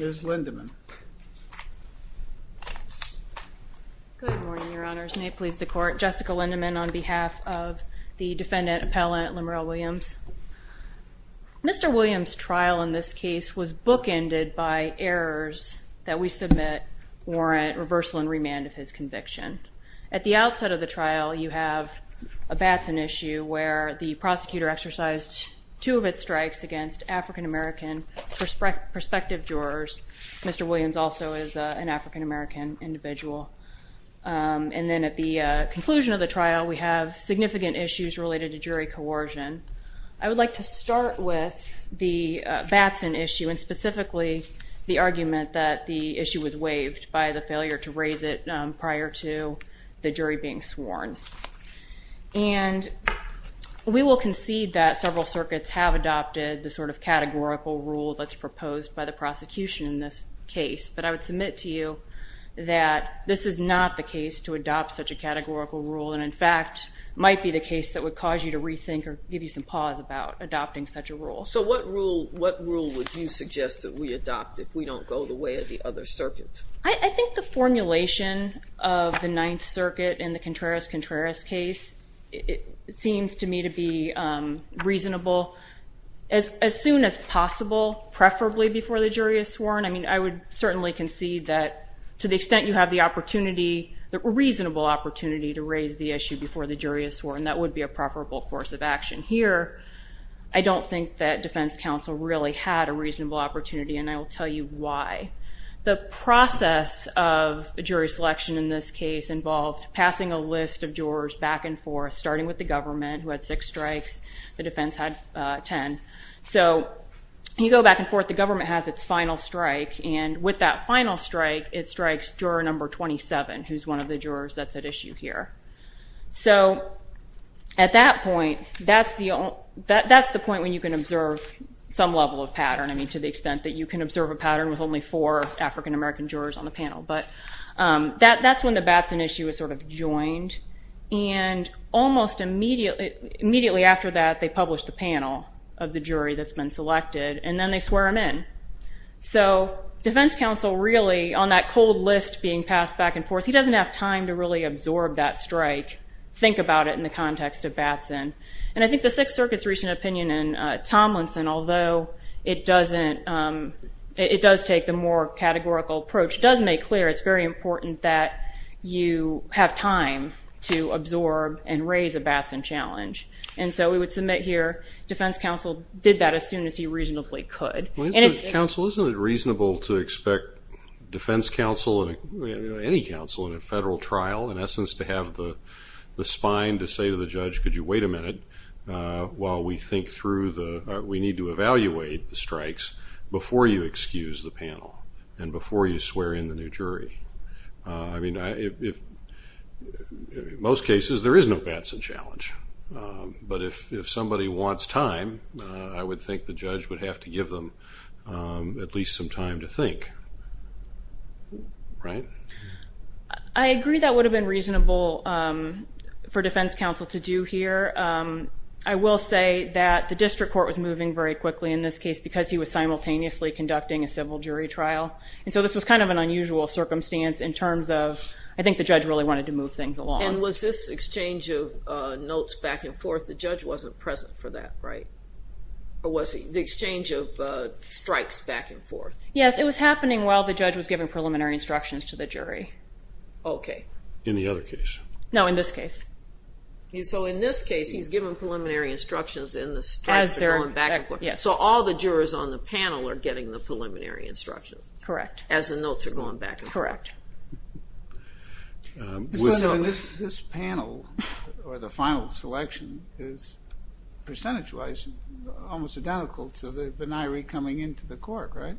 Ms. Lindemann. Good morning, Your Honors. May it please the Court, Jessica Lindemann on behalf of the Defendant Appellant Lemurel Williams. Mr. Williams' trial in this case was bookended by errors that we submit warrant reversal and remand of his conviction. At the outset of the trial, you have a Batson issue where the prosecutor exercised two of its strikes against African-American prospective jurors. Mr. Williams also is an African-American individual. And then at the conclusion of the trial, we have significant issues related to jury coercion. I would like to start with the Batson issue and specifically the argument that the issue was waived by the failure to raise it prior to the jury being sworn. And we will concede that several circuits have adopted the sort of categorical rule that's proposed by the prosecution in this case. But I would submit to you that this is not the case to adopt such a categorical rule and, in fact, might be the case that would cause you to rethink or give you some pause about adopting such a rule. So what rule would you suggest that we adopt if we don't go the way of the other circuit? I think the formulation of the Ninth Circuit in the Contreras-Contreras case seems to me to be reasonable as soon as possible, preferably before the jury is sworn. I mean, I would certainly concede that to the extent you have the opportunity, the reasonable opportunity, to raise the issue before the jury is sworn, that would be a preferable course of action. Here, I don't think that defense counsel really had a reasonable opportunity, and I will tell you why. The process of jury selection in this case involved passing a list of jurors back and forth, starting with the government, who had six strikes. The defense had 10. So you go back and forth. The government has its final strike, and with that final strike, it strikes juror number 27, who's one of the jurors that's at issue here. So at that point, that's the point when you can observe some level of pattern, I mean, to the extent that you can observe a pattern with only four African-American jurors on the panel. But that's when the Batson issue is sort of joined, and almost immediately after that, they publish the panel of the jury that's been selected, and then they swear him in. So defense counsel really, on that cold list being passed back and forth, he doesn't have time to really absorb that strike, think about it in the context of Batson. And I think the Sixth Circuit's recent opinion in Tomlinson, although it does take the more categorical approach, does make clear it's very important that you have time to absorb and raise a Batson challenge. And so we would submit here defense counsel did that as soon as he reasonably could. Counsel, isn't it reasonable to expect defense counsel, any counsel in a federal trial, in essence, to have the spine to say to the judge, could you wait a minute while we think through the, we need to evaluate the strikes before you excuse the panel, and before you swear in the new jury? I mean, in most cases, there is no Batson challenge. But if somebody wants time, I would think the judge would have to give them at least some time to think. Right? I agree that would have been reasonable for defense counsel to do here. I will say that the district court was moving very quickly in this case because he was simultaneously conducting a civil jury trial. And so this was kind of an unusual circumstance in terms of, I think the judge really wanted to move things along. And was this exchange of notes back and forth? The judge wasn't present for that, right? Or was the exchange of strikes back and forth? Yes, it was happening while the judge was giving preliminary instructions to the jury. Okay. In the other case? No, in this case. So in this case, he's given preliminary instructions and the strikes are going back and forth. Yes. So all the jurors on the panel are getting the preliminary instructions. Correct. As the notes are going back and forth. Correct. This panel, or the final selection, is percentage-wise almost identical to the beniree coming into the court, right?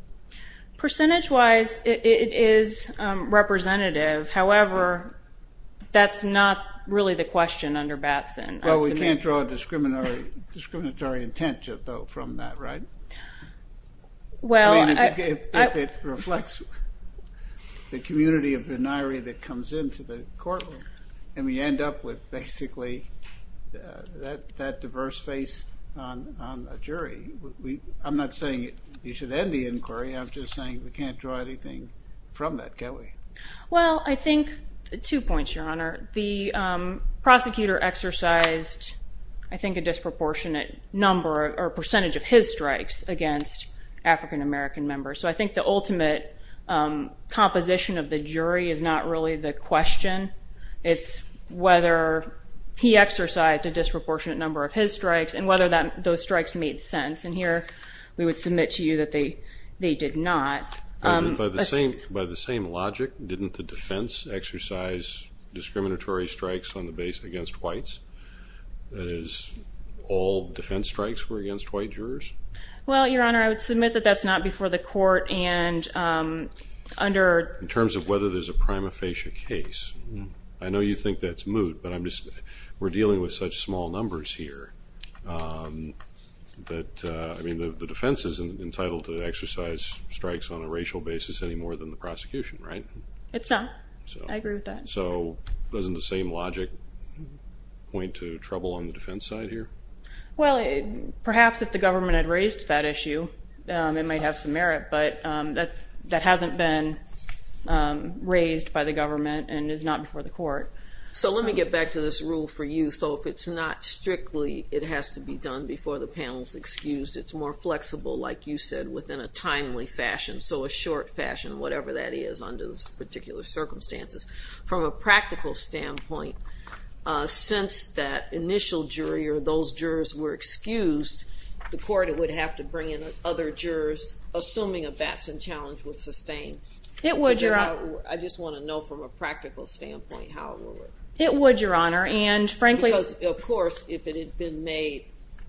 Percentage-wise, it is representative. However, that's not really the question under Batson. Well, we can't draw a discriminatory intent from that, right? If it reflects the community of beniree that comes into the courtroom and we end up with basically that diverse face on a jury, I'm not saying you should end the inquiry. I'm just saying we can't draw anything from that, can we? The prosecutor exercised, I think, a disproportionate number or percentage of his strikes against African-American members. So I think the ultimate composition of the jury is not really the question. It's whether he exercised a disproportionate number of his strikes and whether those strikes made sense. And here we would submit to you that they did not. By the same logic, didn't the defense exercise discriminatory strikes on the base against whites? That is, all defense strikes were against white jurors? Well, Your Honor, I would submit that that's not before the court. In terms of whether there's a prima facie case. I know you think that's moot, but we're dealing with such small numbers here. I mean, the defense isn't entitled to exercise strikes on a racial basis any more than the prosecution, right? It's not. I agree with that. So doesn't the same logic point to trouble on the defense side here? Well, perhaps if the government had raised that issue, it might have some merit. But that hasn't been raised by the government and is not before the court. So let me get back to this rule for you. So if it's not strictly, it has to be done before the panel is excused. It's more flexible, like you said, within a timely fashion. So a short fashion, whatever that is under those particular circumstances. From a practical standpoint, since that initial jury or those jurors were excused, the court would have to bring in other jurors, assuming a Batson challenge was sustained. I just want to know from a practical standpoint how it would work. It would, Your Honor. Because, of course, if it had been made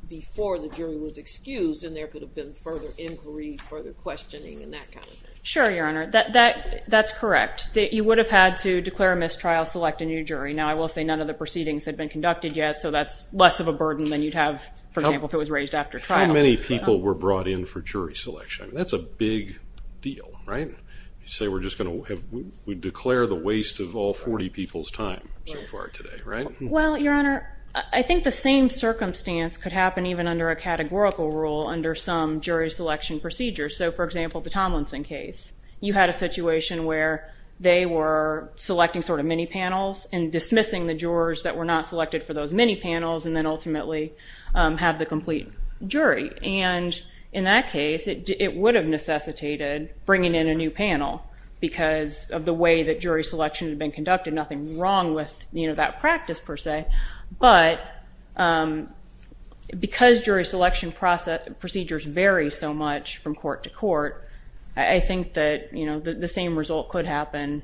before the jury was excused, then there could have been further inquiry, further questioning, and that kind of thing. Sure, Your Honor. That's correct. You would have had to declare a mistrial, select a new jury. Now, I will say none of the proceedings had been conducted yet, so that's less of a burden than you'd have, for example, if it was raised after trial. How many people were brought in for jury selection? That's a big deal, right? You say we're just going to declare the waste of all 40 people's time so far today, right? Well, Your Honor, I think the same circumstance could happen even under a categorical rule under some jury selection procedures. So, for example, the Tomlinson case. You had a situation where they were selecting sort of mini panels and dismissing the jurors that were not selected for those mini panels and then ultimately have the complete jury. In that case, it would have necessitated bringing in a new panel because of the way that jury selection had been conducted. Nothing wrong with that practice, per se, but because jury selection procedures vary so much from court to court, I think that the same result could happen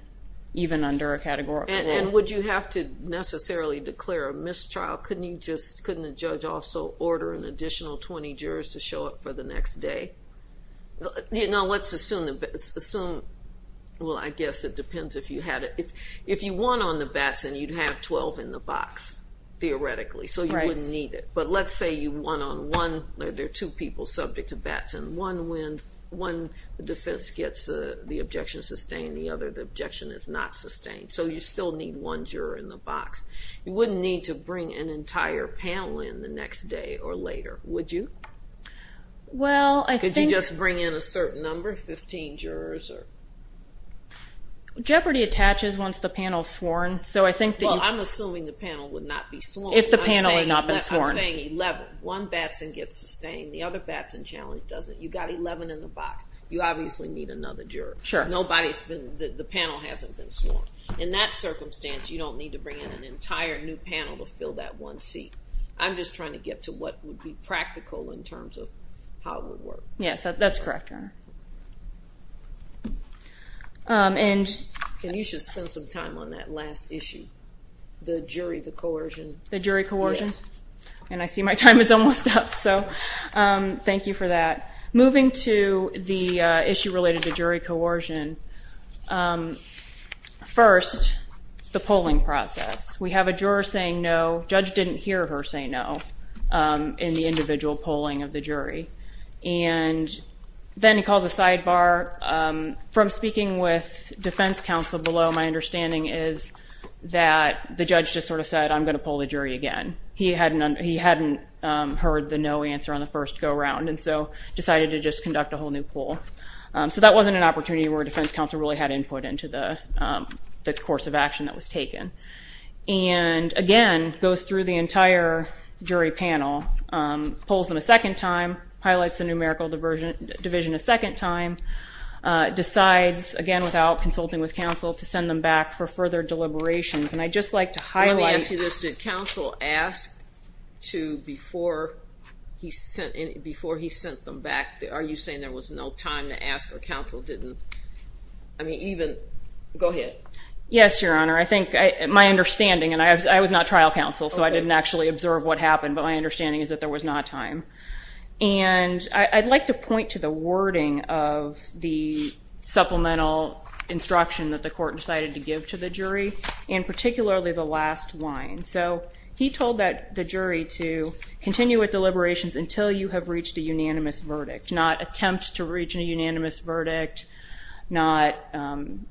even under a categorical rule. And would you have to necessarily declare a mistrial? Couldn't a judge also order an additional 20 jurors to show up for the next day? Let's assume, well, I guess it depends if you had it. If you won on the Batson, you'd have 12 in the box, theoretically. So you wouldn't need it. But let's say you won on one. There are two people subject to Batson. One defense gets the objection sustained. The other, the objection is not sustained. So you still need one juror in the box. You wouldn't need to bring an entire panel in the next day or later, would you? Could you just bring in a certain number, 15 jurors? Jeopardy attaches once the panel is sworn. Well, I'm assuming the panel would not be sworn. If the panel had not been sworn. I'm saying 11. One Batson gets sustained. The other Batson challenge doesn't. You've got 11 in the box. You obviously need another juror. The panel hasn't been sworn. In that circumstance, you don't need to bring in an entire new panel to fill that one seat. I'm just trying to get to what would be practical in terms of how it would work. Yes, that's correct, Your Honor. And you should spend some time on that last issue, the jury, the coercion. The jury coercion? Yes. And I see my time is almost up. So thank you for that. Moving to the issue related to jury coercion, first, the polling process. We have a juror saying no. Judge didn't hear her say no in the individual polling of the jury. And then he calls a sidebar. From speaking with defense counsel below, my understanding is that the judge just sort of said, I'm going to poll the jury again. He hadn't heard the no answer on the first go-round. And so decided to just conduct a whole new poll. So that wasn't an opportunity where defense counsel really had input into the course of action that was taken. And, again, goes through the entire jury panel, polls them a second time, highlights the numerical division a second time, decides, again, without consulting with counsel, to send them back for further deliberations. And I'd just like to highlight. Let me ask you this. Did counsel ask to, before he sent them back, are you saying there was no time to ask or counsel didn't, I mean, even, go ahead. Yes, Your Honor. I think my understanding, and I was not trial counsel, so I didn't actually observe what happened. But my understanding is that there was not time. And I'd like to point to the wording of the supplemental instruction that the court decided to give to the jury. And particularly the last line. So he told the jury to continue with deliberations until you have reached a unanimous verdict. Not attempt to reach a unanimous verdict. Not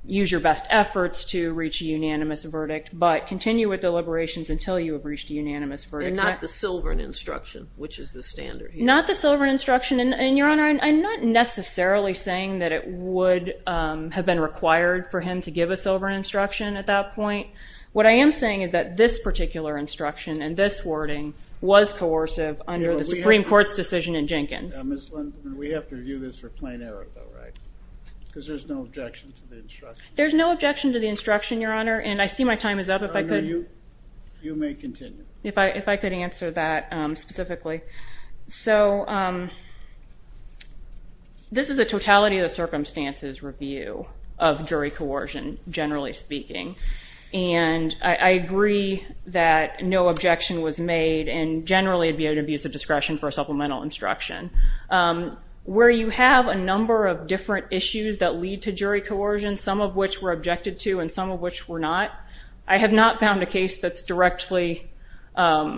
use your best efforts to reach a unanimous verdict. But continue with deliberations until you have reached a unanimous verdict. And not the silver instruction, which is the standard. Not the silver instruction. And, Your Honor, I'm not necessarily saying that it would have been required for him to give a silver instruction at that point. What I am saying is that this particular instruction and this wording was coercive under the Supreme Court's decision in Jenkins. Ms. Linden, we have to review this for plain error, though, right? Because there's no objection to the instruction. There's no objection to the instruction, Your Honor. And I see my time is up. If I could. You may continue. If I could answer that specifically. So this is a totality of the circumstances review of jury coercion, generally speaking. And I agree that no objection was made and generally it would be an abuse of discretion for a supplemental instruction. Where you have a number of different issues that lead to jury coercion, some of which were objected to and some of which were not, I have not found a case that's directly on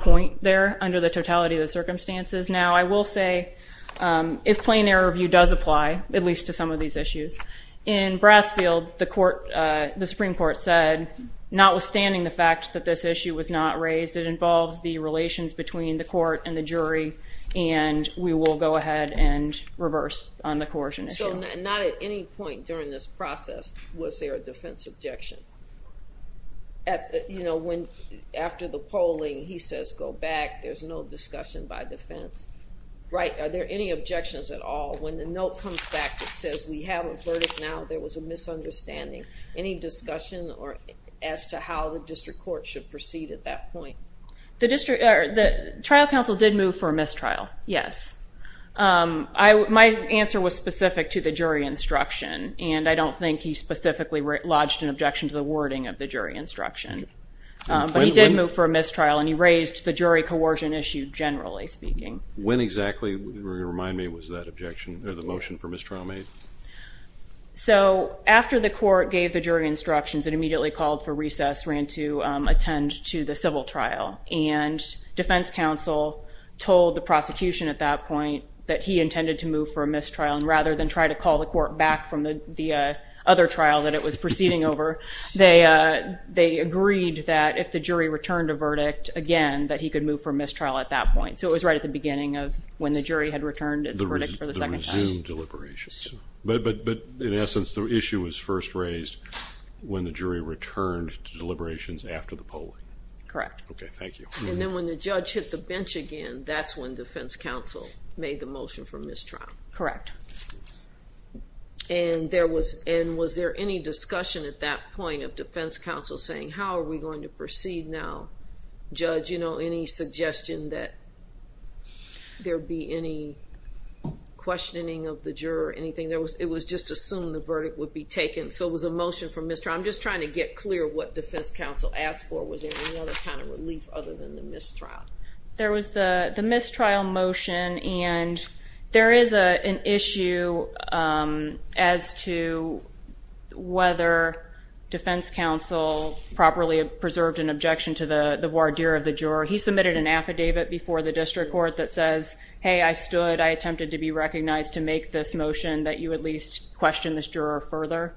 point there under the totality of the circumstances. Now, I will say if plain error review does apply, at least to some of these issues, in Brassfield, the Supreme Court said, notwithstanding the fact that this issue was not raised, it involves the relations between the court and the jury, and we will go ahead and reverse on the coercion issue. So not at any point during this process was there a defense objection? You know, after the polling, he says go back. There's no discussion by defense. Are there any objections at all? When the note comes back that says we have a verdict now, there was a misunderstanding. Any discussion as to how the district court should proceed at that point? The trial counsel did move for a mistrial, yes. My answer was specific to the jury instruction, and I don't think he specifically lodged an objection to the wording of the jury instruction. But he did move for a mistrial, and he raised the jury coercion issue generally speaking. When exactly, remind me, was that objection or the motion for mistrial made? So after the court gave the jury instructions and immediately called for recess, ran to attend to the civil trial, and defense counsel told the prosecution at that point that he intended to move for a mistrial, and rather than try to call the court back from the other trial that it was proceeding over, they agreed that if the jury returned a verdict, again, that he could move for a mistrial at that point. So it was right at the beginning of when the jury had returned its verdict for the second time. The resumed deliberations. But in essence, the issue was first raised when the jury returned deliberations after the polling. Correct. Okay, thank you. And then when the judge hit the bench again, that's when defense counsel made the motion for mistrial. Correct. And was there any discussion at that point of defense counsel saying, how are we going to proceed now? Judge, you know, any suggestion that there be any questioning of the juror or anything? It was just assumed the verdict would be taken, so it was a motion for mistrial. I'm just trying to get clear what defense counsel asked for. Was there any other kind of relief other than the mistrial? There was the mistrial motion, and there is an issue as to whether defense counsel properly preserved an objection to the voir dire of the juror. He submitted an affidavit before the district court that says, hey, I stood, I attempted to be recognized to make this motion that you at least question this juror further.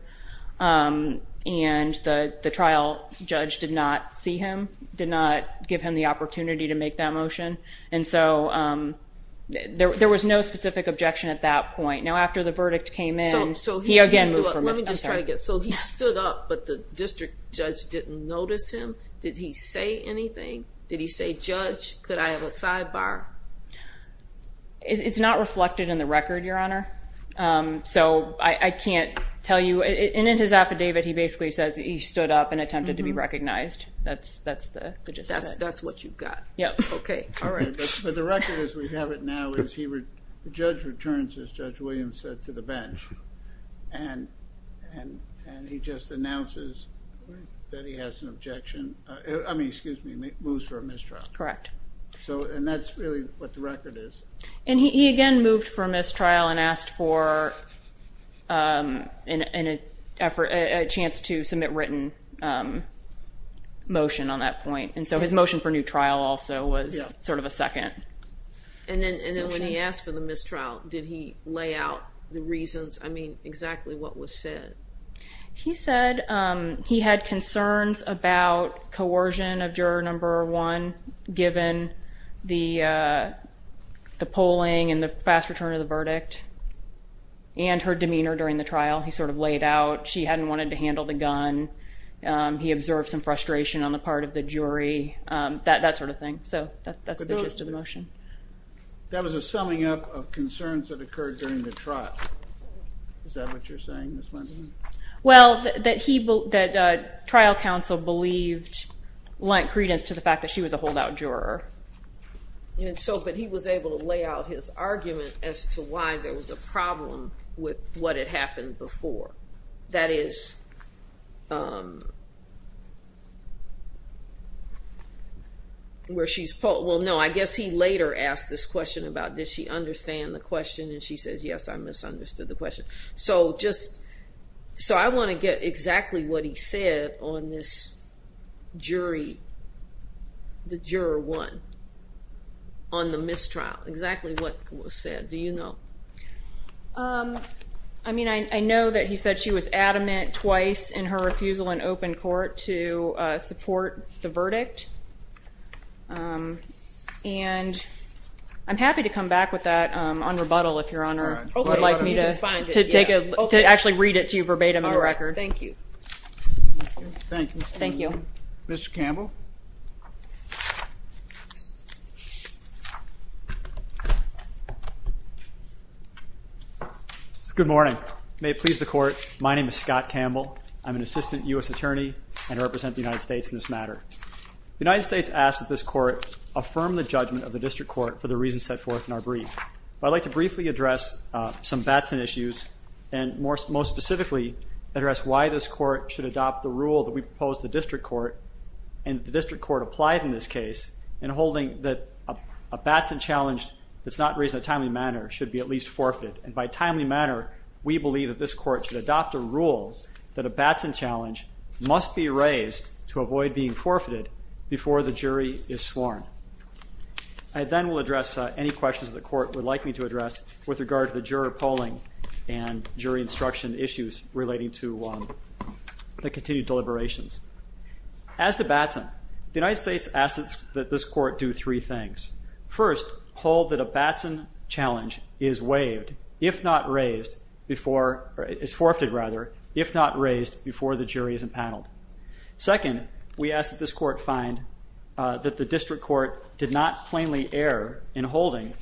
And the trial judge did not see him, did not give him the opportunity to make that motion. And so there was no specific objection at that point. Now, after the verdict came in, he again moved from it. So he stood up, but the district judge didn't notice him? Did he say anything? Did he say, Judge, could I have a sidebar? It's not reflected in the record, Your Honor. So I can't tell you. And in his affidavit, he basically says he stood up and attempted to be recognized. That's the gist of it. That's what you've got. Yeah. Okay. All right. But the record as we have it now is the judge returns, as Judge Williams said, to the bench, and he just announces that he has an objection. I mean, excuse me, moves for a mistrial. Correct. And that's really what the record is. And he again moved for a mistrial and asked for a chance to submit written motion on that point. And so his motion for new trial also was sort of a second motion. And then when he asked for the mistrial, did he lay out the reasons? I mean, exactly what was said? He said he had concerns about coercion of juror number one given the polling and the fast return of the verdict and her demeanor during the trial. He sort of laid out she hadn't wanted to handle the gun. He observed some frustration on the part of the jury, that sort of thing. So that's the gist of the motion. That was a summing up of concerns that occurred during the trial. Is that what you're saying, Ms. Lenderman? Well, that trial counsel believed Lent credence to the fact that she was a holdout juror. But he was able to lay out his argument as to why there was a problem with what had happened before. That is where she's polled. Well, no, I guess he later asked this question about did she understand the question, and she says, yes, I misunderstood the question. So I want to get exactly what he said on this jury, the juror one, on the mistrial. Exactly what was said. Do you know? I mean, I know that he said she was adamant twice in her refusal in open court to support the verdict. And I'm happy to come back with that on rebuttal, if Your Honor would like me to actually read it to you verbatim in the record. All right. Thank you. Thank you. Mr. Campbell? Good morning. May it please the Court, my name is Scott Campbell. I'm an assistant U.S. attorney and represent the United States in this matter. The United States asks that this Court affirm the judgment of the District Court for the reasons set forth in our brief. I'd like to briefly address some Batson issues and most specifically address why this Court should adopt the rule that we proposed to the District Court and the District Court applied in this case in holding that a Batson challenge that's not raised in a timely manner should be at least forfeited. And by timely manner, we believe that this Court should adopt a rule that a Batson challenge must be raised to avoid being forfeited before the jury is sworn. I then will address any questions that the Court would like me to address with regard to the juror polling and jury instruction issues relating to the continued deliberations. As to Batson, the United States asks that this Court do three things. First, hold that a Batson challenge is waived if not raised before, is forfeited rather, if not raised before the jury is empaneled. Second, we ask that this Court find that the District Court did not plainly err in holding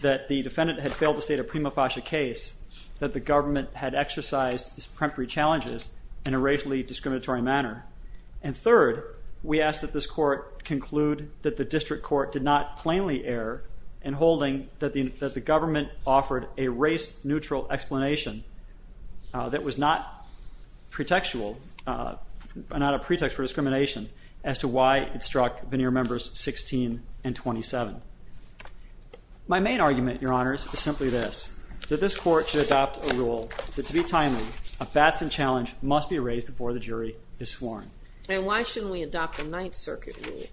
that the defendant had failed to state a prima facie case, that the government had exercised its preemptory challenges in a racially discriminatory manner. And third, we ask that this Court conclude that the District Court did not plainly err in holding that the government offered a race-neutral explanation that was not pretextual, not a pretext for discrimination as to why it struck veneer members 16 and 27. My main argument, Your Honor, is simply this. That this Court should adopt a rule that to be timely, a Batson challenge must be raised before the jury is sworn. And why shouldn't we adopt a Ninth Circuit rule,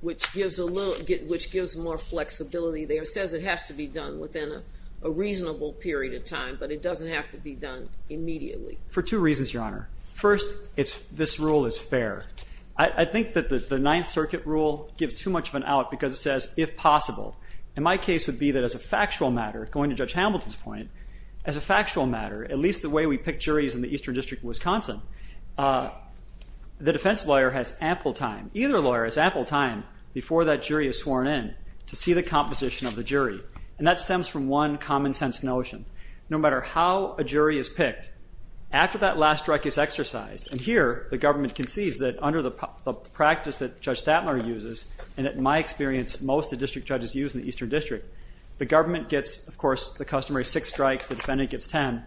which gives more flexibility? It says it has to be done within a reasonable period of time, but it doesn't have to be done immediately. For two reasons, Your Honor. First, this rule is fair. I think that the Ninth Circuit rule gives too much of an out because it says, if possible. And my case would be that as a factual matter, going to Judge Hamilton's point, as a factual matter, at least the way we pick juries in the Eastern District of Wisconsin, the defense lawyer has ample time, either lawyer has ample time before that jury is sworn in to see the composition of the jury. And that stems from one common-sense notion. No matter how a jury is picked, after that last strike is exercised, and here the government concedes that under the practice that Judge Statler uses, and in my experience most of the district judges use in the Eastern District, the government gets, of course, the customary six strikes, the defendant gets ten.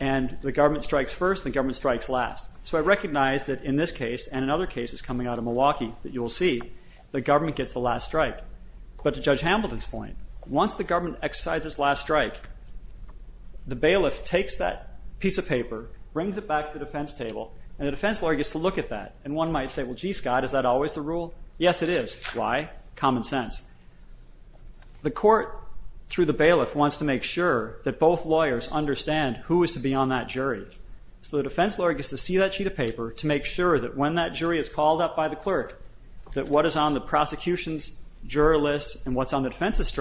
And the government strikes first, the government strikes last. So I recognize that in this case, and in other cases coming out of Milwaukee that you will see, the government gets the last strike. But to Judge Hamilton's point, once the government exercises its last strike, the bailiff takes that piece of paper, brings it back to the defense table, and the defense lawyer gets to look at that. And one might say, well, gee, Scott, is that always the rule? Yes, it is. Why? Common sense. The court, through the bailiff, wants to make sure that both lawyers understand who is to be on that jury. So the defense lawyer gets to see that sheet of paper to make sure that when that jury is called up by the clerk, that what is on the prosecution's juror list and what's on the defense's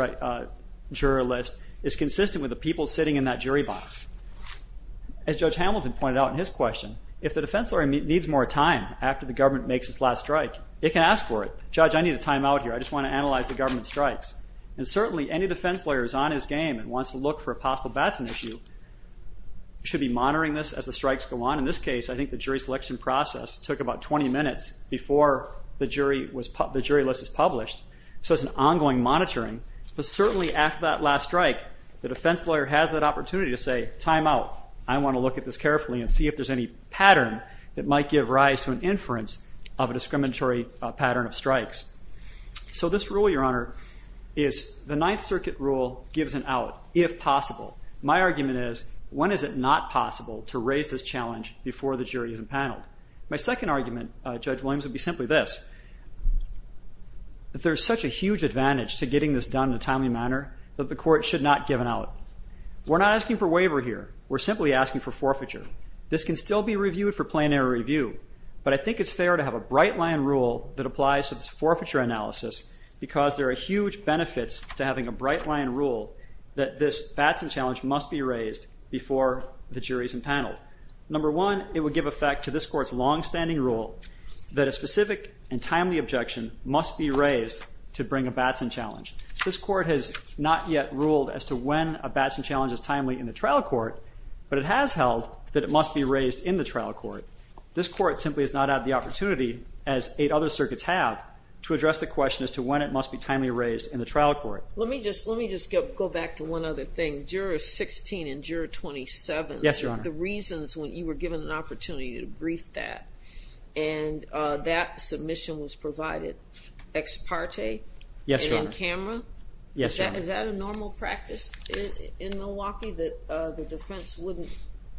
juror list is consistent with the people sitting in that jury box. As Judge Hamilton pointed out in his question, if the defense lawyer needs more time after the government makes its last strike, it can ask for it. Judge, I need a timeout here. I just want to analyze the government strikes. And certainly any defense lawyer who is on his game and wants to look for a possible baton issue should be monitoring this as the strikes go on. In this case, I think the jury selection process took about 20 minutes before the jury list was published. So it's an ongoing monitoring. But certainly after that last strike, the defense lawyer has that opportunity to say, timeout. I want to look at this carefully and see if there's any pattern that might give rise to an inference of a discriminatory pattern of strikes. So this rule, Your Honor, is the Ninth Circuit rule gives an out if possible. My argument is, when is it not possible to raise this challenge before the jury is empaneled? My second argument, Judge Williams, would be simply this. If there's such a huge advantage to getting this done in a timely manner, that the court should not give it out. We're not asking for waiver here. We're simply asking for forfeiture. This can still be reviewed for plenary review. But I think it's fair to have a bright-line rule that applies to this forfeiture analysis because there are huge benefits to having a bright-line rule that this Batson challenge must be raised before the jury is empaneled. Number one, it would give effect to this Court's longstanding rule that a specific and timely objection must be raised to bring a Batson challenge. This Court has not yet ruled as to when a Batson challenge is timely in the trial court, but it has held that it must be raised in the trial court. This Court simply has not had the opportunity, as eight other circuits have, to address the question as to when it must be timely raised in the trial court. Let me just go back to one other thing. Juror 16 and Juror 27. Yes, Your Honor. The reasons when you were given an opportunity to brief that, and that submission was provided. Ex parte? Yes, Your Honor. And in camera? Yes, Your Honor. Is that a normal practice in Milwaukee, that the defense wouldn't,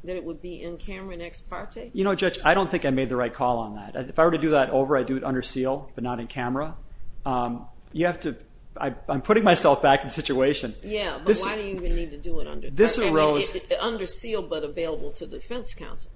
that it would be in camera in ex parte? You know, Judge, I don't think I made the right call on that. If I were to do that over, I'd do it under seal, but not in camera. You have to, I'm putting myself back in situation. Yeah, but why do you even need to do it under part? This arose. Under seal, but available to the defense counsel.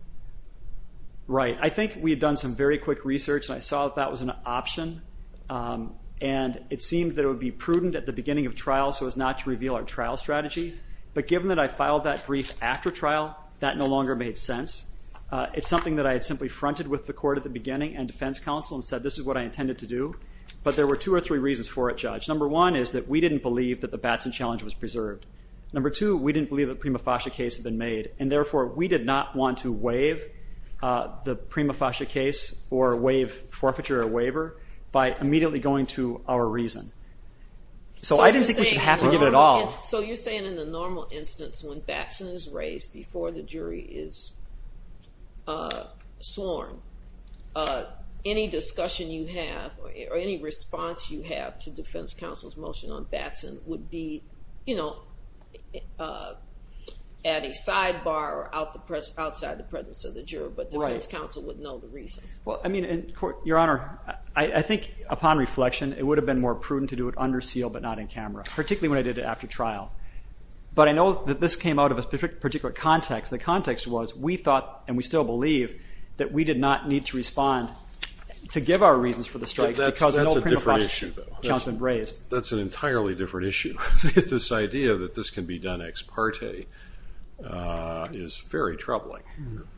Right. I think we had done some very quick research, and I saw that that was an option, and it seemed that it would be prudent at the beginning of trial so as not to reveal our trial strategy. But given that I filed that brief after trial, that no longer made sense. It's something that I had simply fronted with the court at the beginning and defense counsel and said, this is what I intended to do. But there were two or three reasons for it, Judge. Number one is that we didn't believe that the Batson challenge was preserved. Number two, we didn't believe that the Prima Fascia case had been made, and therefore we did not want to waive the Prima Fascia case or waive forfeiture or waiver by immediately going to our reason. So I didn't think we should have to give it at all. So you're saying in the normal instance when Batson is raised before the jury is sworn, any discussion you have or any response you have to defense counsel's motion on Batson would be at a sidebar or outside the presence of the juror, but defense counsel would know the reasons. Your Honor, I think upon reflection, it would have been more prudent to do it under seal but not in camera, particularly when I did it after trial. But I know that this came out of a particular context. The context was we thought and we still believe that we did not need to respond to give our reasons for the strike because there's no Prima Fascia challenge that was raised. That's an entirely different issue. This idea that this can be done ex parte is very troubling.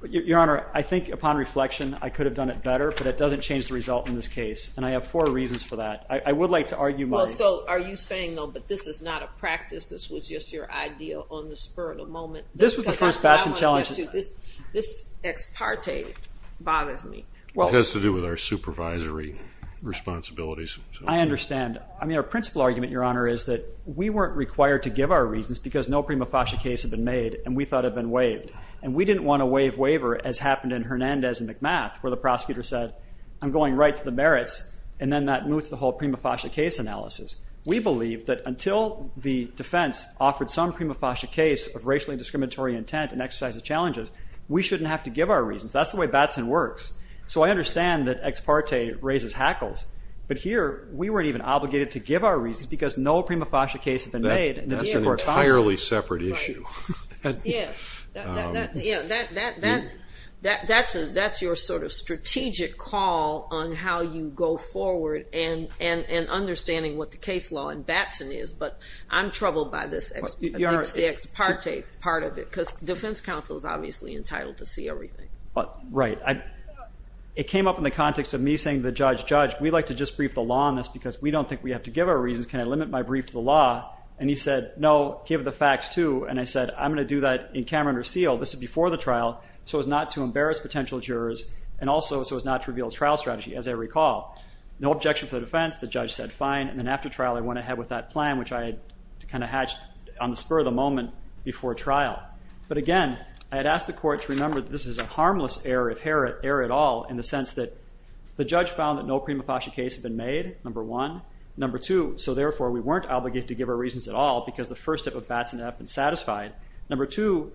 Your Honor, I think upon reflection, I could have done it better, but it doesn't change the result in this case, and I have four reasons for that. I would like to argue mine. Well, so are you saying, though, but this is not a practice, this was just your idea on the spur of the moment? This was the first Batson challenge. This ex parte bothers me. It has to do with our supervisory responsibilities. I understand. I mean, our principal argument, Your Honor, is that we weren't required to give our reasons because no Prima Fascia case had been made and we thought had been waived, and we didn't want to waive waiver as happened in Hernandez and McMath where the prosecutor said, well, I'm going right to the merits, and then that moots the whole Prima Fascia case analysis. We believe that until the defense offered some Prima Fascia case of racially discriminatory intent and exercise of challenges, we shouldn't have to give our reasons. That's the way Batson works. So I understand that ex parte raises hackles, but here we weren't even obligated to give our reasons because no Prima Fascia case had been made. That's an entirely separate issue. Yeah, that's your sort of strategic call on how you go forward and understanding what the case law in Batson is, but I'm troubled by this ex parte part of it because defense counsel is obviously entitled to see everything. Right. It came up in the context of me saying to the judge, judge, we'd like to just brief the law on this because we don't think we have to give our reasons. Can I limit my brief to the law? And he said, no, give the facts too. And I said, I'm going to do that in camera under seal. This is before the trial, so as not to embarrass potential jurors and also so as not to reveal trial strategy. As I recall, no objection for the defense. The judge said, fine. And then after trial, I went ahead with that plan, which I had kind of hatched on the spur of the moment before trial. But again, I had asked the court to remember that this is a harmless error, error at all in the sense that the judge found that no Prima Fascia case had been made, number one. Number two, so therefore we weren't obligated to give our reasons at all because the first step of Batson had been satisfied. Number two,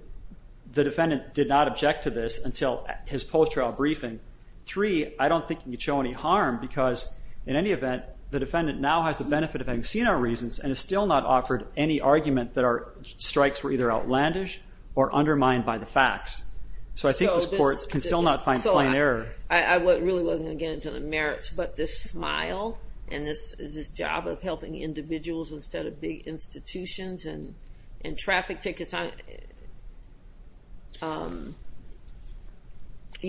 the defendant did not object to this until his post-trial briefing. Three, I don't think you can show any harm because in any event, the defendant now has the benefit of having seen our reasons and has still not offered any argument that our strikes were either outlandish or undermined by the facts. So I think this court can still not find plain error. So I really wasn't going to get into the merits, but this smile and this job of helping individuals instead of big institutions and traffic tickets, you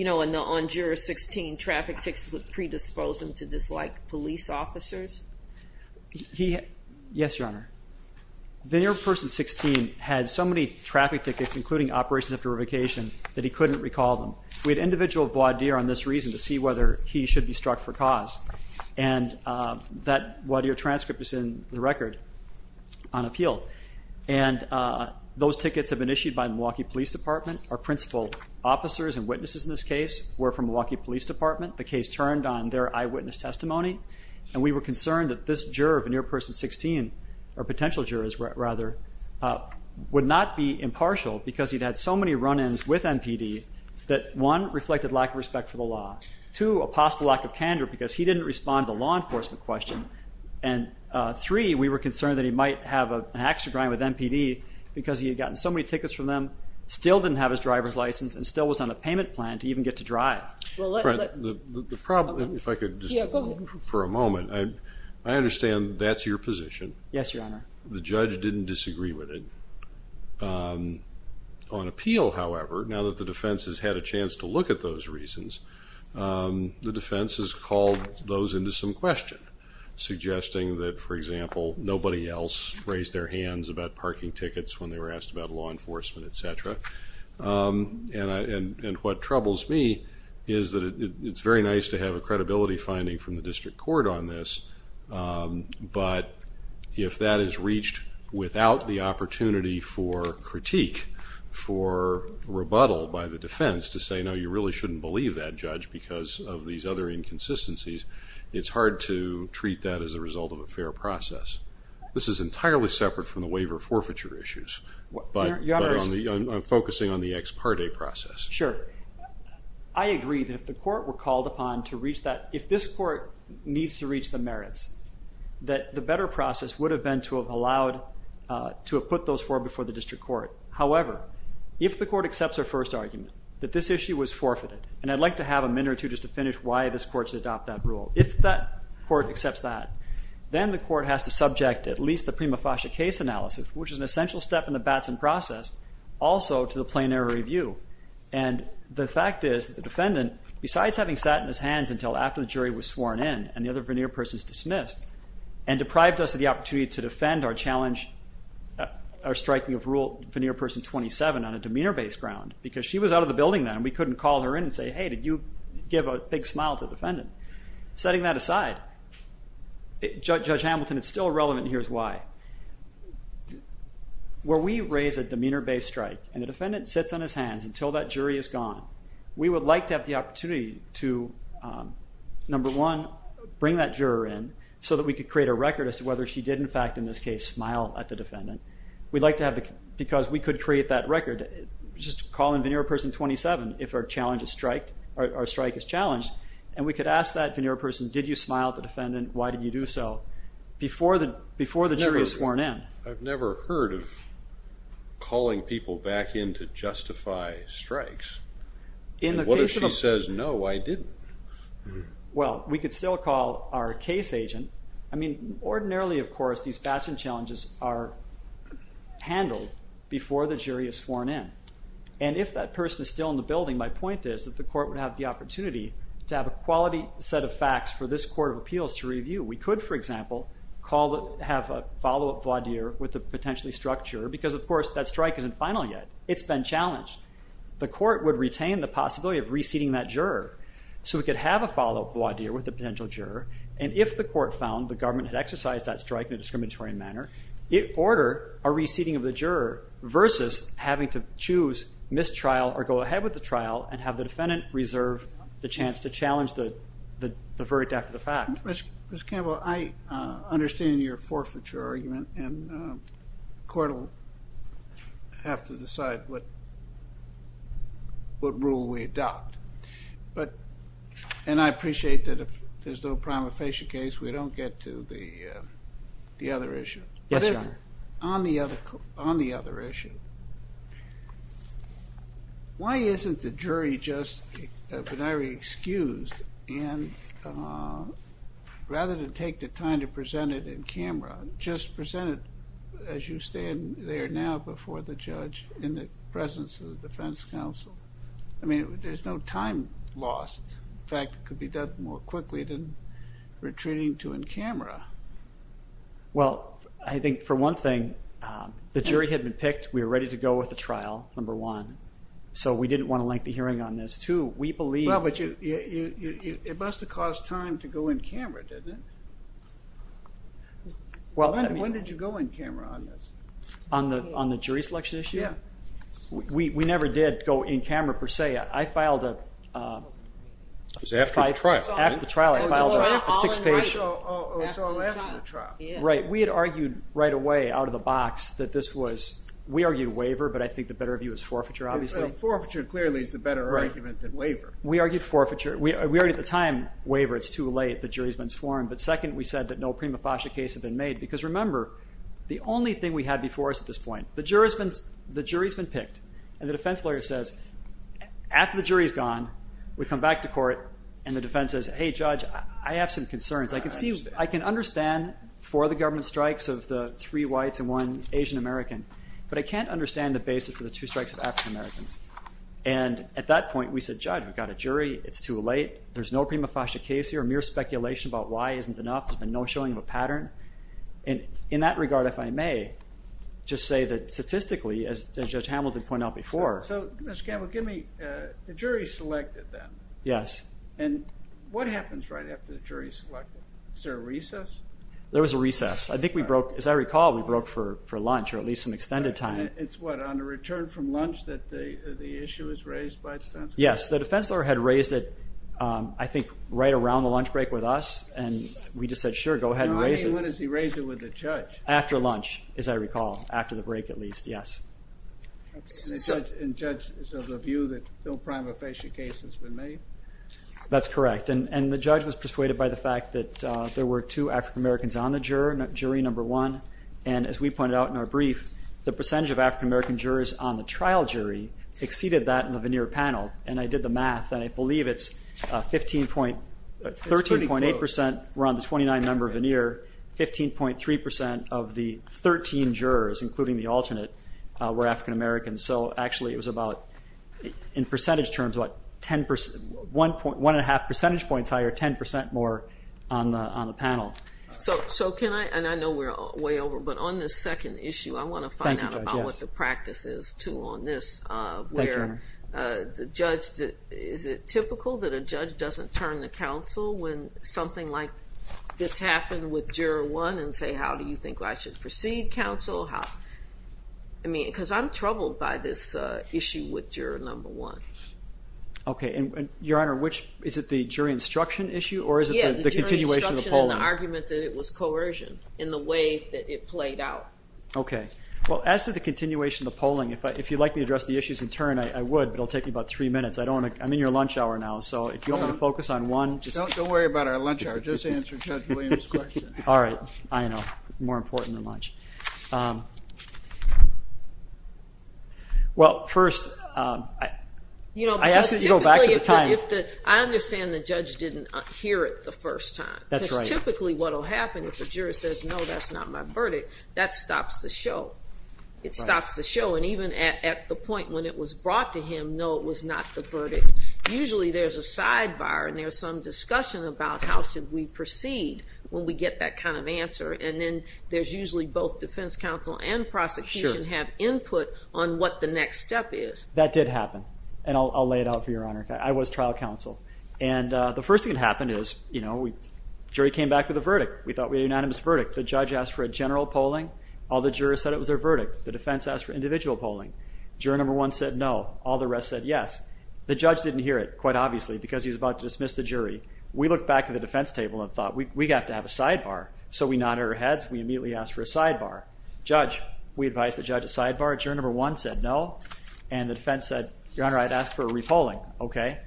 know, on Juris 16, traffic tickets would predispose them to dislike police officers. Yes, Your Honor. Veneer of Person 16 had so many traffic tickets, including operations after a vacation, that he couldn't recall them. We had an individual voir dire on this reason to see whether he should be struck for cause, and that voir dire transcript is in the record on appeal. And those tickets have been issued by Milwaukee Police Department. Our principal officers and witnesses in this case were from Milwaukee Police Department. The case turned on their eyewitness testimony, and we were concerned that this juror of Veneer of Person 16, or potential jurors rather, would not be impartial because he'd had so many run-ins with MPD that, one, reflected lack of respect for the law, two, a possible lack of candor because he didn't respond to the law enforcement question, and three, we were concerned that he might have an extra grind with MPD because he had gotten so many tickets from them, still didn't have his driver's license, and still wasn't on a payment plan to even get to drive. The problem, if I could just for a moment, I understand that's your position. Yes, Your Honor. The judge didn't disagree with it. On appeal, however, now that the defense has had a chance to look at those reasons, the defense has called those into some question, suggesting that, for example, nobody else raised their hands about parking tickets when they were asked about law enforcement, et cetera. And what troubles me is that it's very nice to have a credibility finding from the district court on this, but if that is reached without the opportunity for critique, for rebuttal by the defense to say, no, you really shouldn't believe that, Judge, because of these other inconsistencies, it's hard to treat that as a result of a fair process. This is entirely separate from the waiver forfeiture issues, but I'm focusing on the ex parte process. Sure. I agree that if the court were called upon to reach that, if this court needs to reach the merits, that the better process would have been to have allowed, to have put those forward before the district court. However, if the court accepts our first argument, that this issue was forfeited, and I'd like to have a minute or two just to finish why this court should adopt that rule. If that court accepts that, then the court has to subject at least the prima facie case analysis, which is an essential step in the Batson process, also to the plain error review. And the fact is, the defendant, besides having sat in his hands until after the jury was sworn in and the other veneer person is dismissed, and deprived us of the opportunity to defend our challenge, our striking of rule veneer person 27 on a demeanor-based ground, because she was out of the building then, and we couldn't call her in and say, hey, did you give a big smile to the defendant? Setting that aside, Judge Hamilton, it's still relevant, and here's why. Where we raise a demeanor-based strike, and the defendant sits on his hands until that jury is gone, we would like to have the opportunity to, number one, bring that juror in so that we could create a record as to whether she did, in fact, in this case, smile at the defendant. We'd like to have the, because we could create that record, just call in veneer person 27 if our strike is challenged, and we could ask that veneer person, did you smile at the defendant? Why did you do so? Before the jury is sworn in. I've never heard of calling people back in to justify strikes. What if she says, no, I didn't? Well, we could still call our case agent. I mean, ordinarily, of course, these batching challenges are handled before the jury is sworn in, and if that person is still in the building, my point is that the court would have the opportunity to have a quality set of facts for this court of appeals to review. We could, for example, have a follow-up voir dire with a potentially struck juror because, of course, that strike isn't final yet. It's been challenged. The court would retain the possibility of reseating that juror. So we could have a follow-up voir dire with a potential juror, and if the court found the government had exercised that strike in a discriminatory manner, it'd order a reseating of the juror versus having to choose mistrial or go ahead with the trial and have the defendant reserve the chance to challenge the verdict after the fact. Mr. Campbell, I understand your forfeiture argument, and the court will have to decide what rule we adopt. And I appreciate that if there's no prima facie case, we don't get to the other issue. Yes, Your Honor. On the other issue, why isn't the jury just benire excused and rather than take the time to present it in camera, just present it as you stand there now before the judge in the presence of the defense counsel? I mean, there's no time lost. In fact, it could be done more quickly than retreating to in camera. Well, I think for one thing, the jury had been picked. We were ready to go with the trial, number one. So we didn't want a lengthy hearing on this, too. Well, but it must have cost time to go in camera, didn't it? When did you go in camera on this? On the jury selection issue? Yeah. We never did go in camera per se. I filed a five- It was after the trial. After the trial, I filed a six-page. Oh, it's all after the trial. Yeah. Right. We had argued right away out of the box that this was- We argued waiver, but I think the better view is forfeiture, obviously. Forfeiture clearly is the better argument than waiver. Right. We argued forfeiture. We argued at the time, waiver, it's too late. The jury's been sworn. But second, we said that no prima facie case had been made. Because remember, the only thing we had before us at this point, the jury's been picked, and the defense lawyer says, after the jury's gone, we come back to court, and the defense says, hey, Judge, I have some concerns. I can see- I understand. I can understand four of the government strikes of the three whites and one Asian American, but I can't understand the basis for the two strikes of African Americans. And at that point, we said, Judge, we've got a jury. It's too late. There's no prima facie case here. Mere speculation about why isn't enough. There's been no showing of a pattern. And in that regard, if I may, just say that statistically, as Judge Hamilton pointed out before- So, Mr. Campbell, give me- The jury's selected, then. Yes. And what happens right after the jury's selected? Is there a recess? There was a recess. I think we broke- as I recall, we broke for lunch, or at least some extended time. It's what, on the return from lunch that the issue was raised by the defense? Yes. The defense lawyer had raised it, I think, right around the lunch break with us, and we just said, sure, go ahead and raise it. No, I mean, when does he raise it with the judge? After lunch, as I recall. After the break, at least. Yes. And the judge is of the view that no prima facie case has been made? That's correct. And the judge was persuaded by the fact that there were two African Americans on the jury, number one. And as we pointed out in our brief, the percentage of African American jurors on the trial jury exceeded that in the veneer panel. And I did the math, and I believe it's 13.8% were on the 29-member veneer, 15.3% of the 13 jurors, including the alternate, were African Americans. So actually it was about, in percentage terms, about 1.5 percentage points higher, 10% more on the panel. So can I, and I know we're way over, but on this second issue, I want to find out about what the practice is, too, on this. Thank you. Where the judge, is it typical that a judge doesn't turn to counsel when something like this happened with juror one and say, how do you think I should proceed, counsel? I mean, because I'm troubled by this issue with juror number one. Okay, and, Your Honor, is it the jury instruction issue or is it the continuation of the polling? Yeah, the jury instruction and the argument that it was coercion in the way that it played out. Okay. Well, as to the continuation of the polling, if you'd like me to address the issues in turn, I would, but it will take me about three minutes. I'm in your lunch hour now, so if you want me to focus on one. Don't worry about our lunch hour. Just answer Judge Williams' question. All right. I know. More important than lunch. Well, first, I asked you to go back to the time. I understand the judge didn't hear it the first time. That's right. Because typically what will happen if the juror says, no, that's not my verdict, that stops the show. It stops the show, and even at the point when it was brought to him, no, it was not the verdict. Usually there's a sidebar and there's some discussion about how should we proceed when we get that kind of answer, and then there's usually both defense counsel and prosecution have input on what the next step is. That did happen, and I'll lay it out for you, Your Honor. I was trial counsel. And the first thing that happened is the jury came back with a verdict. We thought we had a unanimous verdict. The judge asked for a general polling. All the jurors said it was their verdict. The defense asked for individual polling. Juror number one said no. All the rest said yes. The judge didn't hear it, quite obviously, because he was about to dismiss the jury. We looked back at the defense table and thought, we have to have a sidebar. So we nodded our heads. We immediately asked for a sidebar. Judge, we advised the judge a sidebar. Juror number one said no. And the defense said, Your Honor, I'd ask for a re-polling, okay?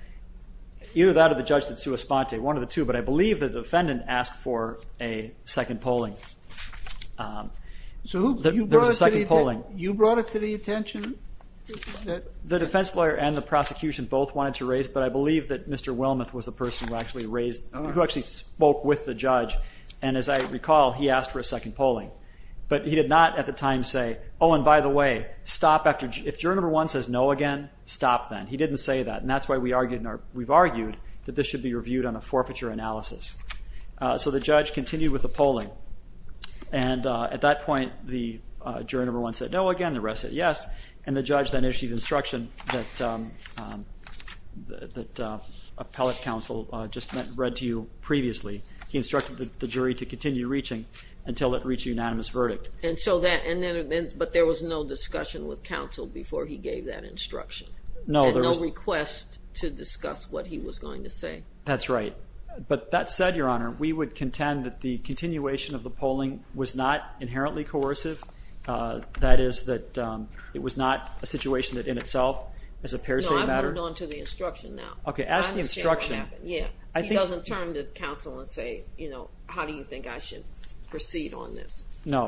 Either that or the judge did sua sponte, one of the two. But I believe the defendant asked for a second polling. There was a second polling. You brought it to the attention? The defense lawyer and the prosecution both wanted to raise, but I believe that Mr. Wilmoth was the person who actually raised, who actually spoke with the judge. And as I recall, he asked for a second polling. But he did not at the time say, oh, and by the way, if juror number one says no again, stop then. He didn't say that. And that's why we've argued that this should be reviewed on a forfeiture analysis. So the judge continued with the polling. And at that point, the juror number one said no again. The rest said yes. And the judge then issued instruction that appellate counsel just read to you previously. He instructed the jury to continue reaching until it reached a unanimous verdict. But there was no discussion with counsel before he gave that instruction? No. And no request to discuss what he was going to say? That's right. But that said, Your Honor, we would contend that the continuation of the polling was not inherently coercive. That is that it was not a situation that in itself is a parasitic matter. No, I've moved on to the instruction now. Okay. Ask the instruction. Yeah. He doesn't turn to counsel and say, you know, how do you think I should proceed on this? No.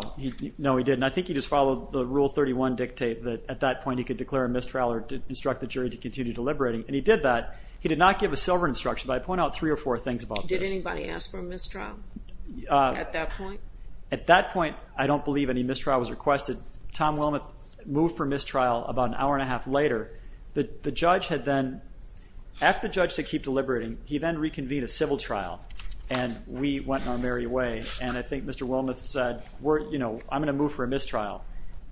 No, he didn't. I think he just followed the Rule 31 dictate that at that point he could declare a mistrial or instruct the jury to continue deliberating. And he did that. He did not give a silver instruction, but I point out three or four things about this. Did anybody ask for a mistrial at that point? At that point, I don't believe any mistrial was requested. Tom Wilmoth moved for mistrial about an hour and a half later. The judge had then, after the judge said keep deliberating, he then reconvened a civil trial, and we went our merry way. And I think Mr. Wilmoth said, you know, I'm going to move for a mistrial.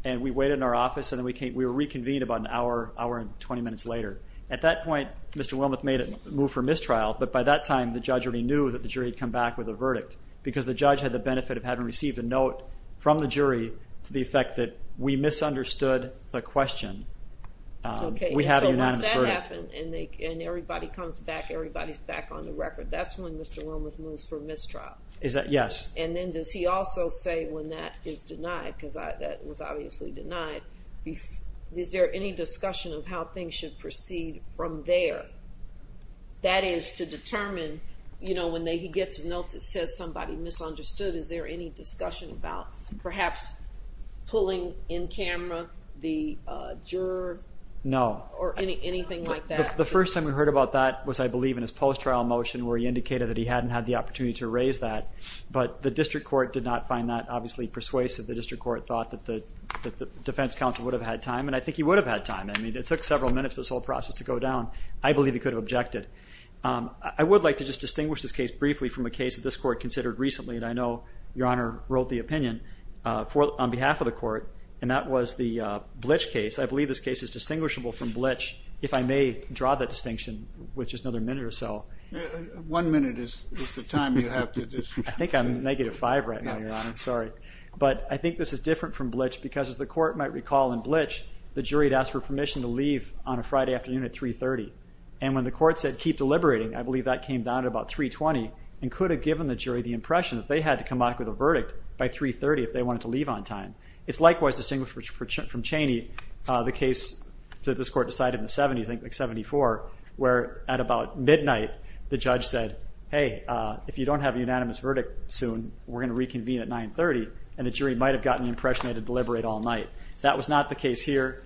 And we waited in our office, and we were reconvened about an hour, hour and 20 minutes later. At that point, Mr. Wilmoth made a move for mistrial, but by that time the judge already knew that the jury had come back with a verdict because the judge had the benefit of having received a note from the jury to the effect that we misunderstood the question. We have a unanimous verdict. Okay, so once that happened and everybody comes back, everybody's back on the record, that's when Mr. Wilmoth moves for mistrial. Yes. And then does he also say when that is denied, because that was obviously denied, is there any discussion of how things should proceed from there? That is to determine, you know, when he gets a note that says somebody misunderstood, is there any discussion about perhaps pulling in camera the juror? No. Or anything like that? The first time we heard about that was, I believe, in his post-trial motion where he indicated that he hadn't had the opportunity to raise that, but the district court did not find that obviously persuasive. The district court thought that the defense counsel would have had time, and I think he would have had time. I mean, it took several minutes for this whole process to go down. I believe he could have objected. I would like to just distinguish this case briefly from a case that this court considered recently, and I know Your Honor wrote the opinion on behalf of the court, and that was the Blitch case. I believe this case is distinguishable from Blitch, if I may draw that distinction with just another minute or so. One minute is the time you have to just... I think I'm negative five right now, Your Honor. Sorry. But I think this is different from Blitch because, as the court might recall, in Blitch, the jury had asked for permission to leave on a Friday afternoon at 3.30, and when the court said keep deliberating, I believe that came down at about 3.20 and could have given the jury the impression that they had to come back with a verdict by 3.30 if they wanted to leave on time. It's likewise distinguished from Cheney, the case that this court decided in the 70s, I think like 74, where at about midnight the judge said, hey, if you don't have a unanimous verdict soon, we're going to reconvene at 9.30, and the jury might have gotten the impression they had to deliberate all night. That was not the case here.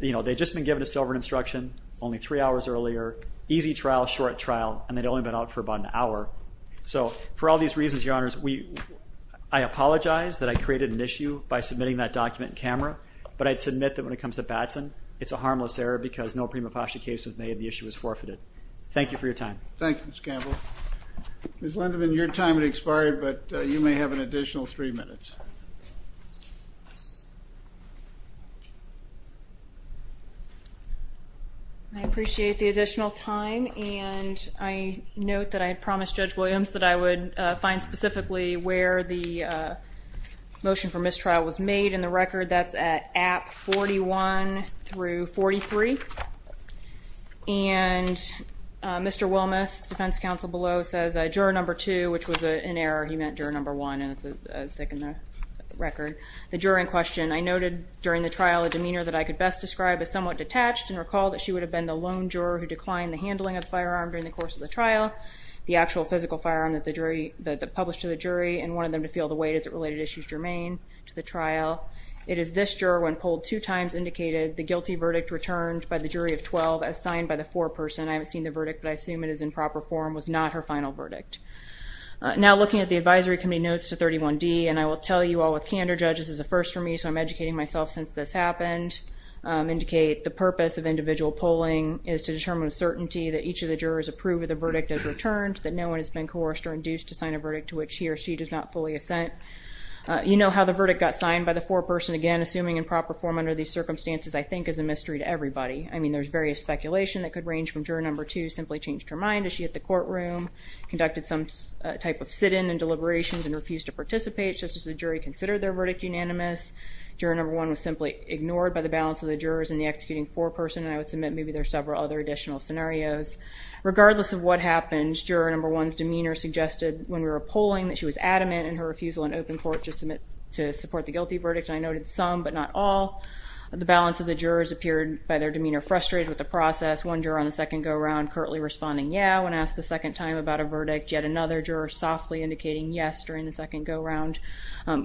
They'd just been given a sobering instruction only three hours earlier, easy trial, short trial, and they'd only been out for about an hour. So for all these reasons, Your Honors, I apologize that I created an issue by submitting that document in camera, but I'd submit that when it comes to Batson, it's a harmless error because no prima facie case was made and the issue was forfeited. Thank you for your time. Thank you, Mr. Campbell. Ms. Lindeman, your time has expired, but you may have an additional three minutes. I appreciate the additional time, and I note that I had promised Judge Williams that I would find specifically where the motion for mistrial was made, and the record, that's at app 41 through 43. And Mr. Wilmoth, defense counsel below, says juror number two, which was an error. He meant juror number one, and it's sick in the record. The juror in question, I noted during the trial a demeanor that I could best describe as somewhat detached and recall that she would have been the lone juror who declined the handling of the firearm during the course of the trial, the actual physical firearm that the jury published to the jury, and wanted them to feel the weight as it related issues germane to the trial. It is this juror when polled two times indicated the guilty verdict returned by the jury of 12 as signed by the foreperson. I haven't seen the verdict, but I assume it is in proper form, was not her final verdict. Now looking at the advisory committee notes to 31D, and I will tell you all with candor, judges, this is a first for me, so I'm educating myself since this happened, indicate the purpose of individual polling is to determine with certainty that each of the jurors approve of the verdict as returned, that no one has been coerced or induced to sign a verdict to which he or she does not fully assent. You know how the verdict got signed by the foreperson again, assuming in proper form under these circumstances, I think is a mystery to everybody. I mean, there's various speculation that could range from juror number two simply changed her mind as she hit the courtroom, conducted some type of sit-in and deliberations and refused to participate, just as the jury considered their verdict unanimous. Juror number one was simply ignored by the balance of the jurors and the executing foreperson, and I would submit maybe there are several other additional scenarios. Regardless of what happened, juror number one's demeanor suggested when we were polling that she was adamant in her refusal in open court to support the guilty verdict, and I noted some but not all. The balance of the jurors appeared, by their demeanor, frustrated with the process. One juror on the second go-around currently responding yeah when asked a second time about a verdict. Yet another juror softly indicating yes during the second go-around.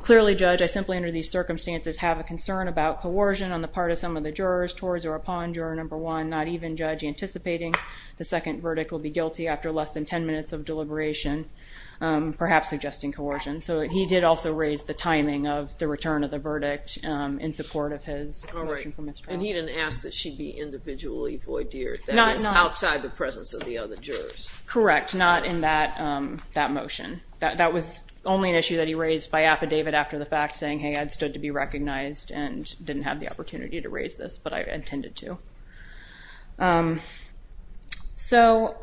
Clearly, Judge, I simply under these circumstances have a concern about coercion on the part of some of the jurors towards or upon juror number one, not even, Judge, anticipating the second verdict will be guilty after less than 10 minutes of deliberation, perhaps suggesting coercion. So he did also raise the timing of the return of the verdict in support of his motion for mistrial. And he didn't ask that she be individually voideared. That is outside the presence of the other jurors. Correct. Not in that motion. That was only an issue that he raised by affidavit after the fact, saying, hey, I'd stood to be recognized and didn't have the opportunity to raise this, but I intended to. So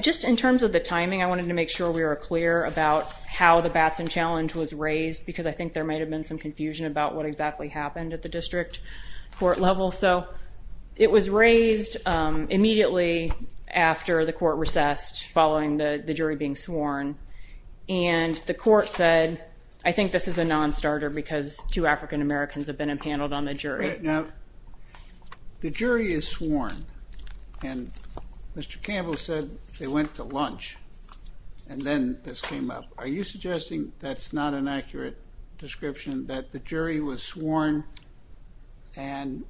just in terms of the timing, I wanted to make sure we were clear about how the Batson challenge was raised because I think there might have been some confusion about what exactly happened at the district court level. So it was raised immediately after the court recessed following the jury being sworn. And the court said, I think this is a nonstarter because two African-Americans have been impaneled on the jury. Now, the jury is sworn, and Mr. Campbell said they went to lunch, and then this came up. Are you suggesting that's not an accurate description, that the jury was sworn and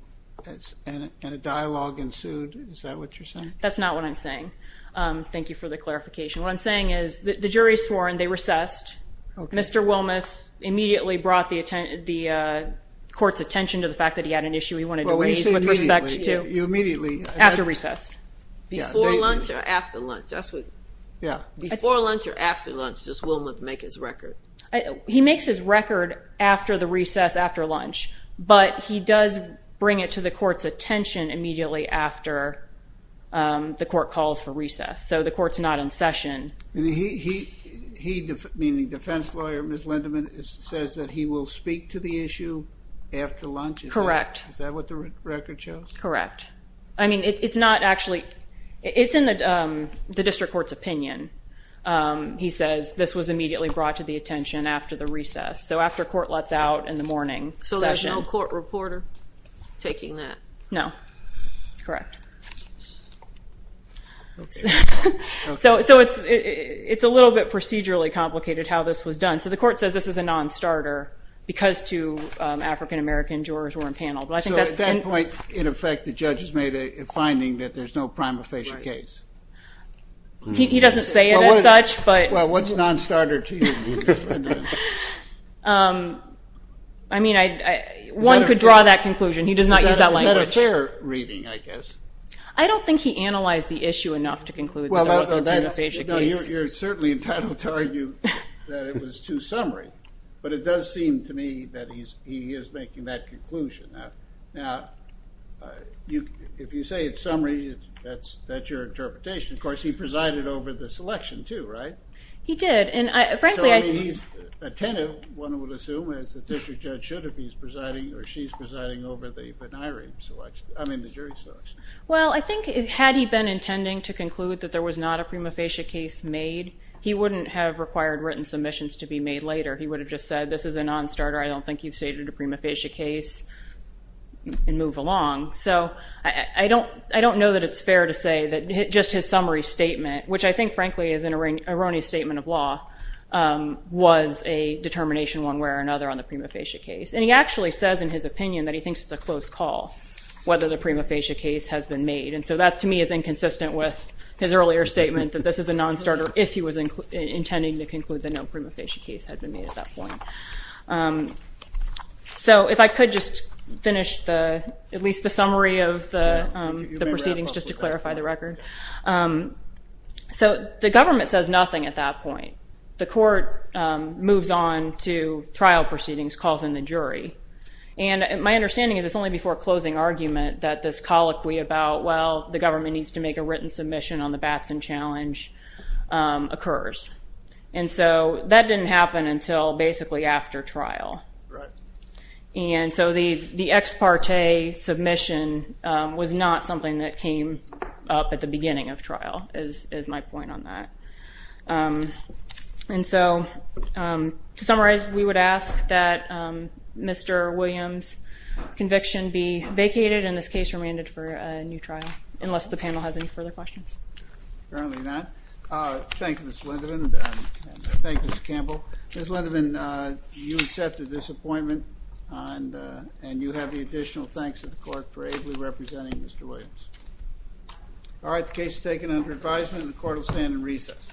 a dialogue ensued? Is that what you're saying? That's not what I'm saying. Thank you for the clarification. What I'm saying is the jury is sworn. They recessed. Mr. Wilmoth immediately brought the court's attention to the fact that he had an issue he wanted to raise with respect to after recess. Before lunch or after lunch? Before lunch or after lunch, does Wilmoth make his record? He makes his record after the recess, after lunch, but he does bring it to the court's attention immediately after the court calls for recess. So the court's not in session. He, meaning defense lawyer Ms. Lindeman, says that he will speak to the issue after lunch? Correct. Is that what the record shows? Correct. It's in the district court's opinion, he says, this was immediately brought to the attention after the recess. So after court lets out in the morning session. So there's no court reporter taking that? No. Correct. So it's a little bit procedurally complicated how this was done. So the court says this is a non-starter because two African-American jurors were impaneled. So at that point, in effect, the judge has made a finding that there's no prima facie case. He doesn't say it as such. Well, what's a non-starter to you, Ms. Lindeman? I mean, one could draw that conclusion. He does not use that language. Is that a fair reading, I guess? I don't think he analyzed the issue enough to conclude that there was a prima facie case. You're certainly entitled to argue that it was too summary, but it does seem to me that he is making that conclusion. Now, if you say it's summary, that's your interpretation. Of course, he presided over the selection, too, right? He did. So, I mean, he's attentive, one would assume, as a district judge should if he's presiding or she's presiding over the jury selection. Well, I think had he been intending to conclude that there was not a prima facie case made, he wouldn't have required written submissions to be made later. He would have just said, this is a non-starter. I don't think you've stated a prima facie case and move along. So I don't know that it's fair to say that just his summary statement, which I think, frankly, is an erroneous statement of law, was a determination one way or another on the prima facie case. And he actually says in his opinion that he thinks it's a close call, whether the prima facie case has been made. And so that, to me, is inconsistent with his earlier statement that this is a non-starter if he was intending to conclude that no prima facie case had been made at that point. So if I could just finish at least the summary of the proceedings just to clarify the record. So the government says nothing at that point. The court moves on to trial proceedings, calls in the jury. And my understanding is it's only before closing argument that this colloquy about, well, the government needs to make a written submission on the Batson challenge occurs. And so that didn't happen until basically after trial. And so the ex parte submission was not something that came up at the beginning of trial is my point on that. And so to summarize, we would ask that Mr. Williams' conviction be vacated and this case remanded for a new trial, unless the panel has any further questions. Apparently not. Thank you, Ms. Lindeman, and thank you, Mr. Campbell. Ms. Lindeman, you accepted this appointment, and you have the additional thanks of the court for ably representing Mr. Williams. All right, the case is taken under advisement, and the court will stand in recess.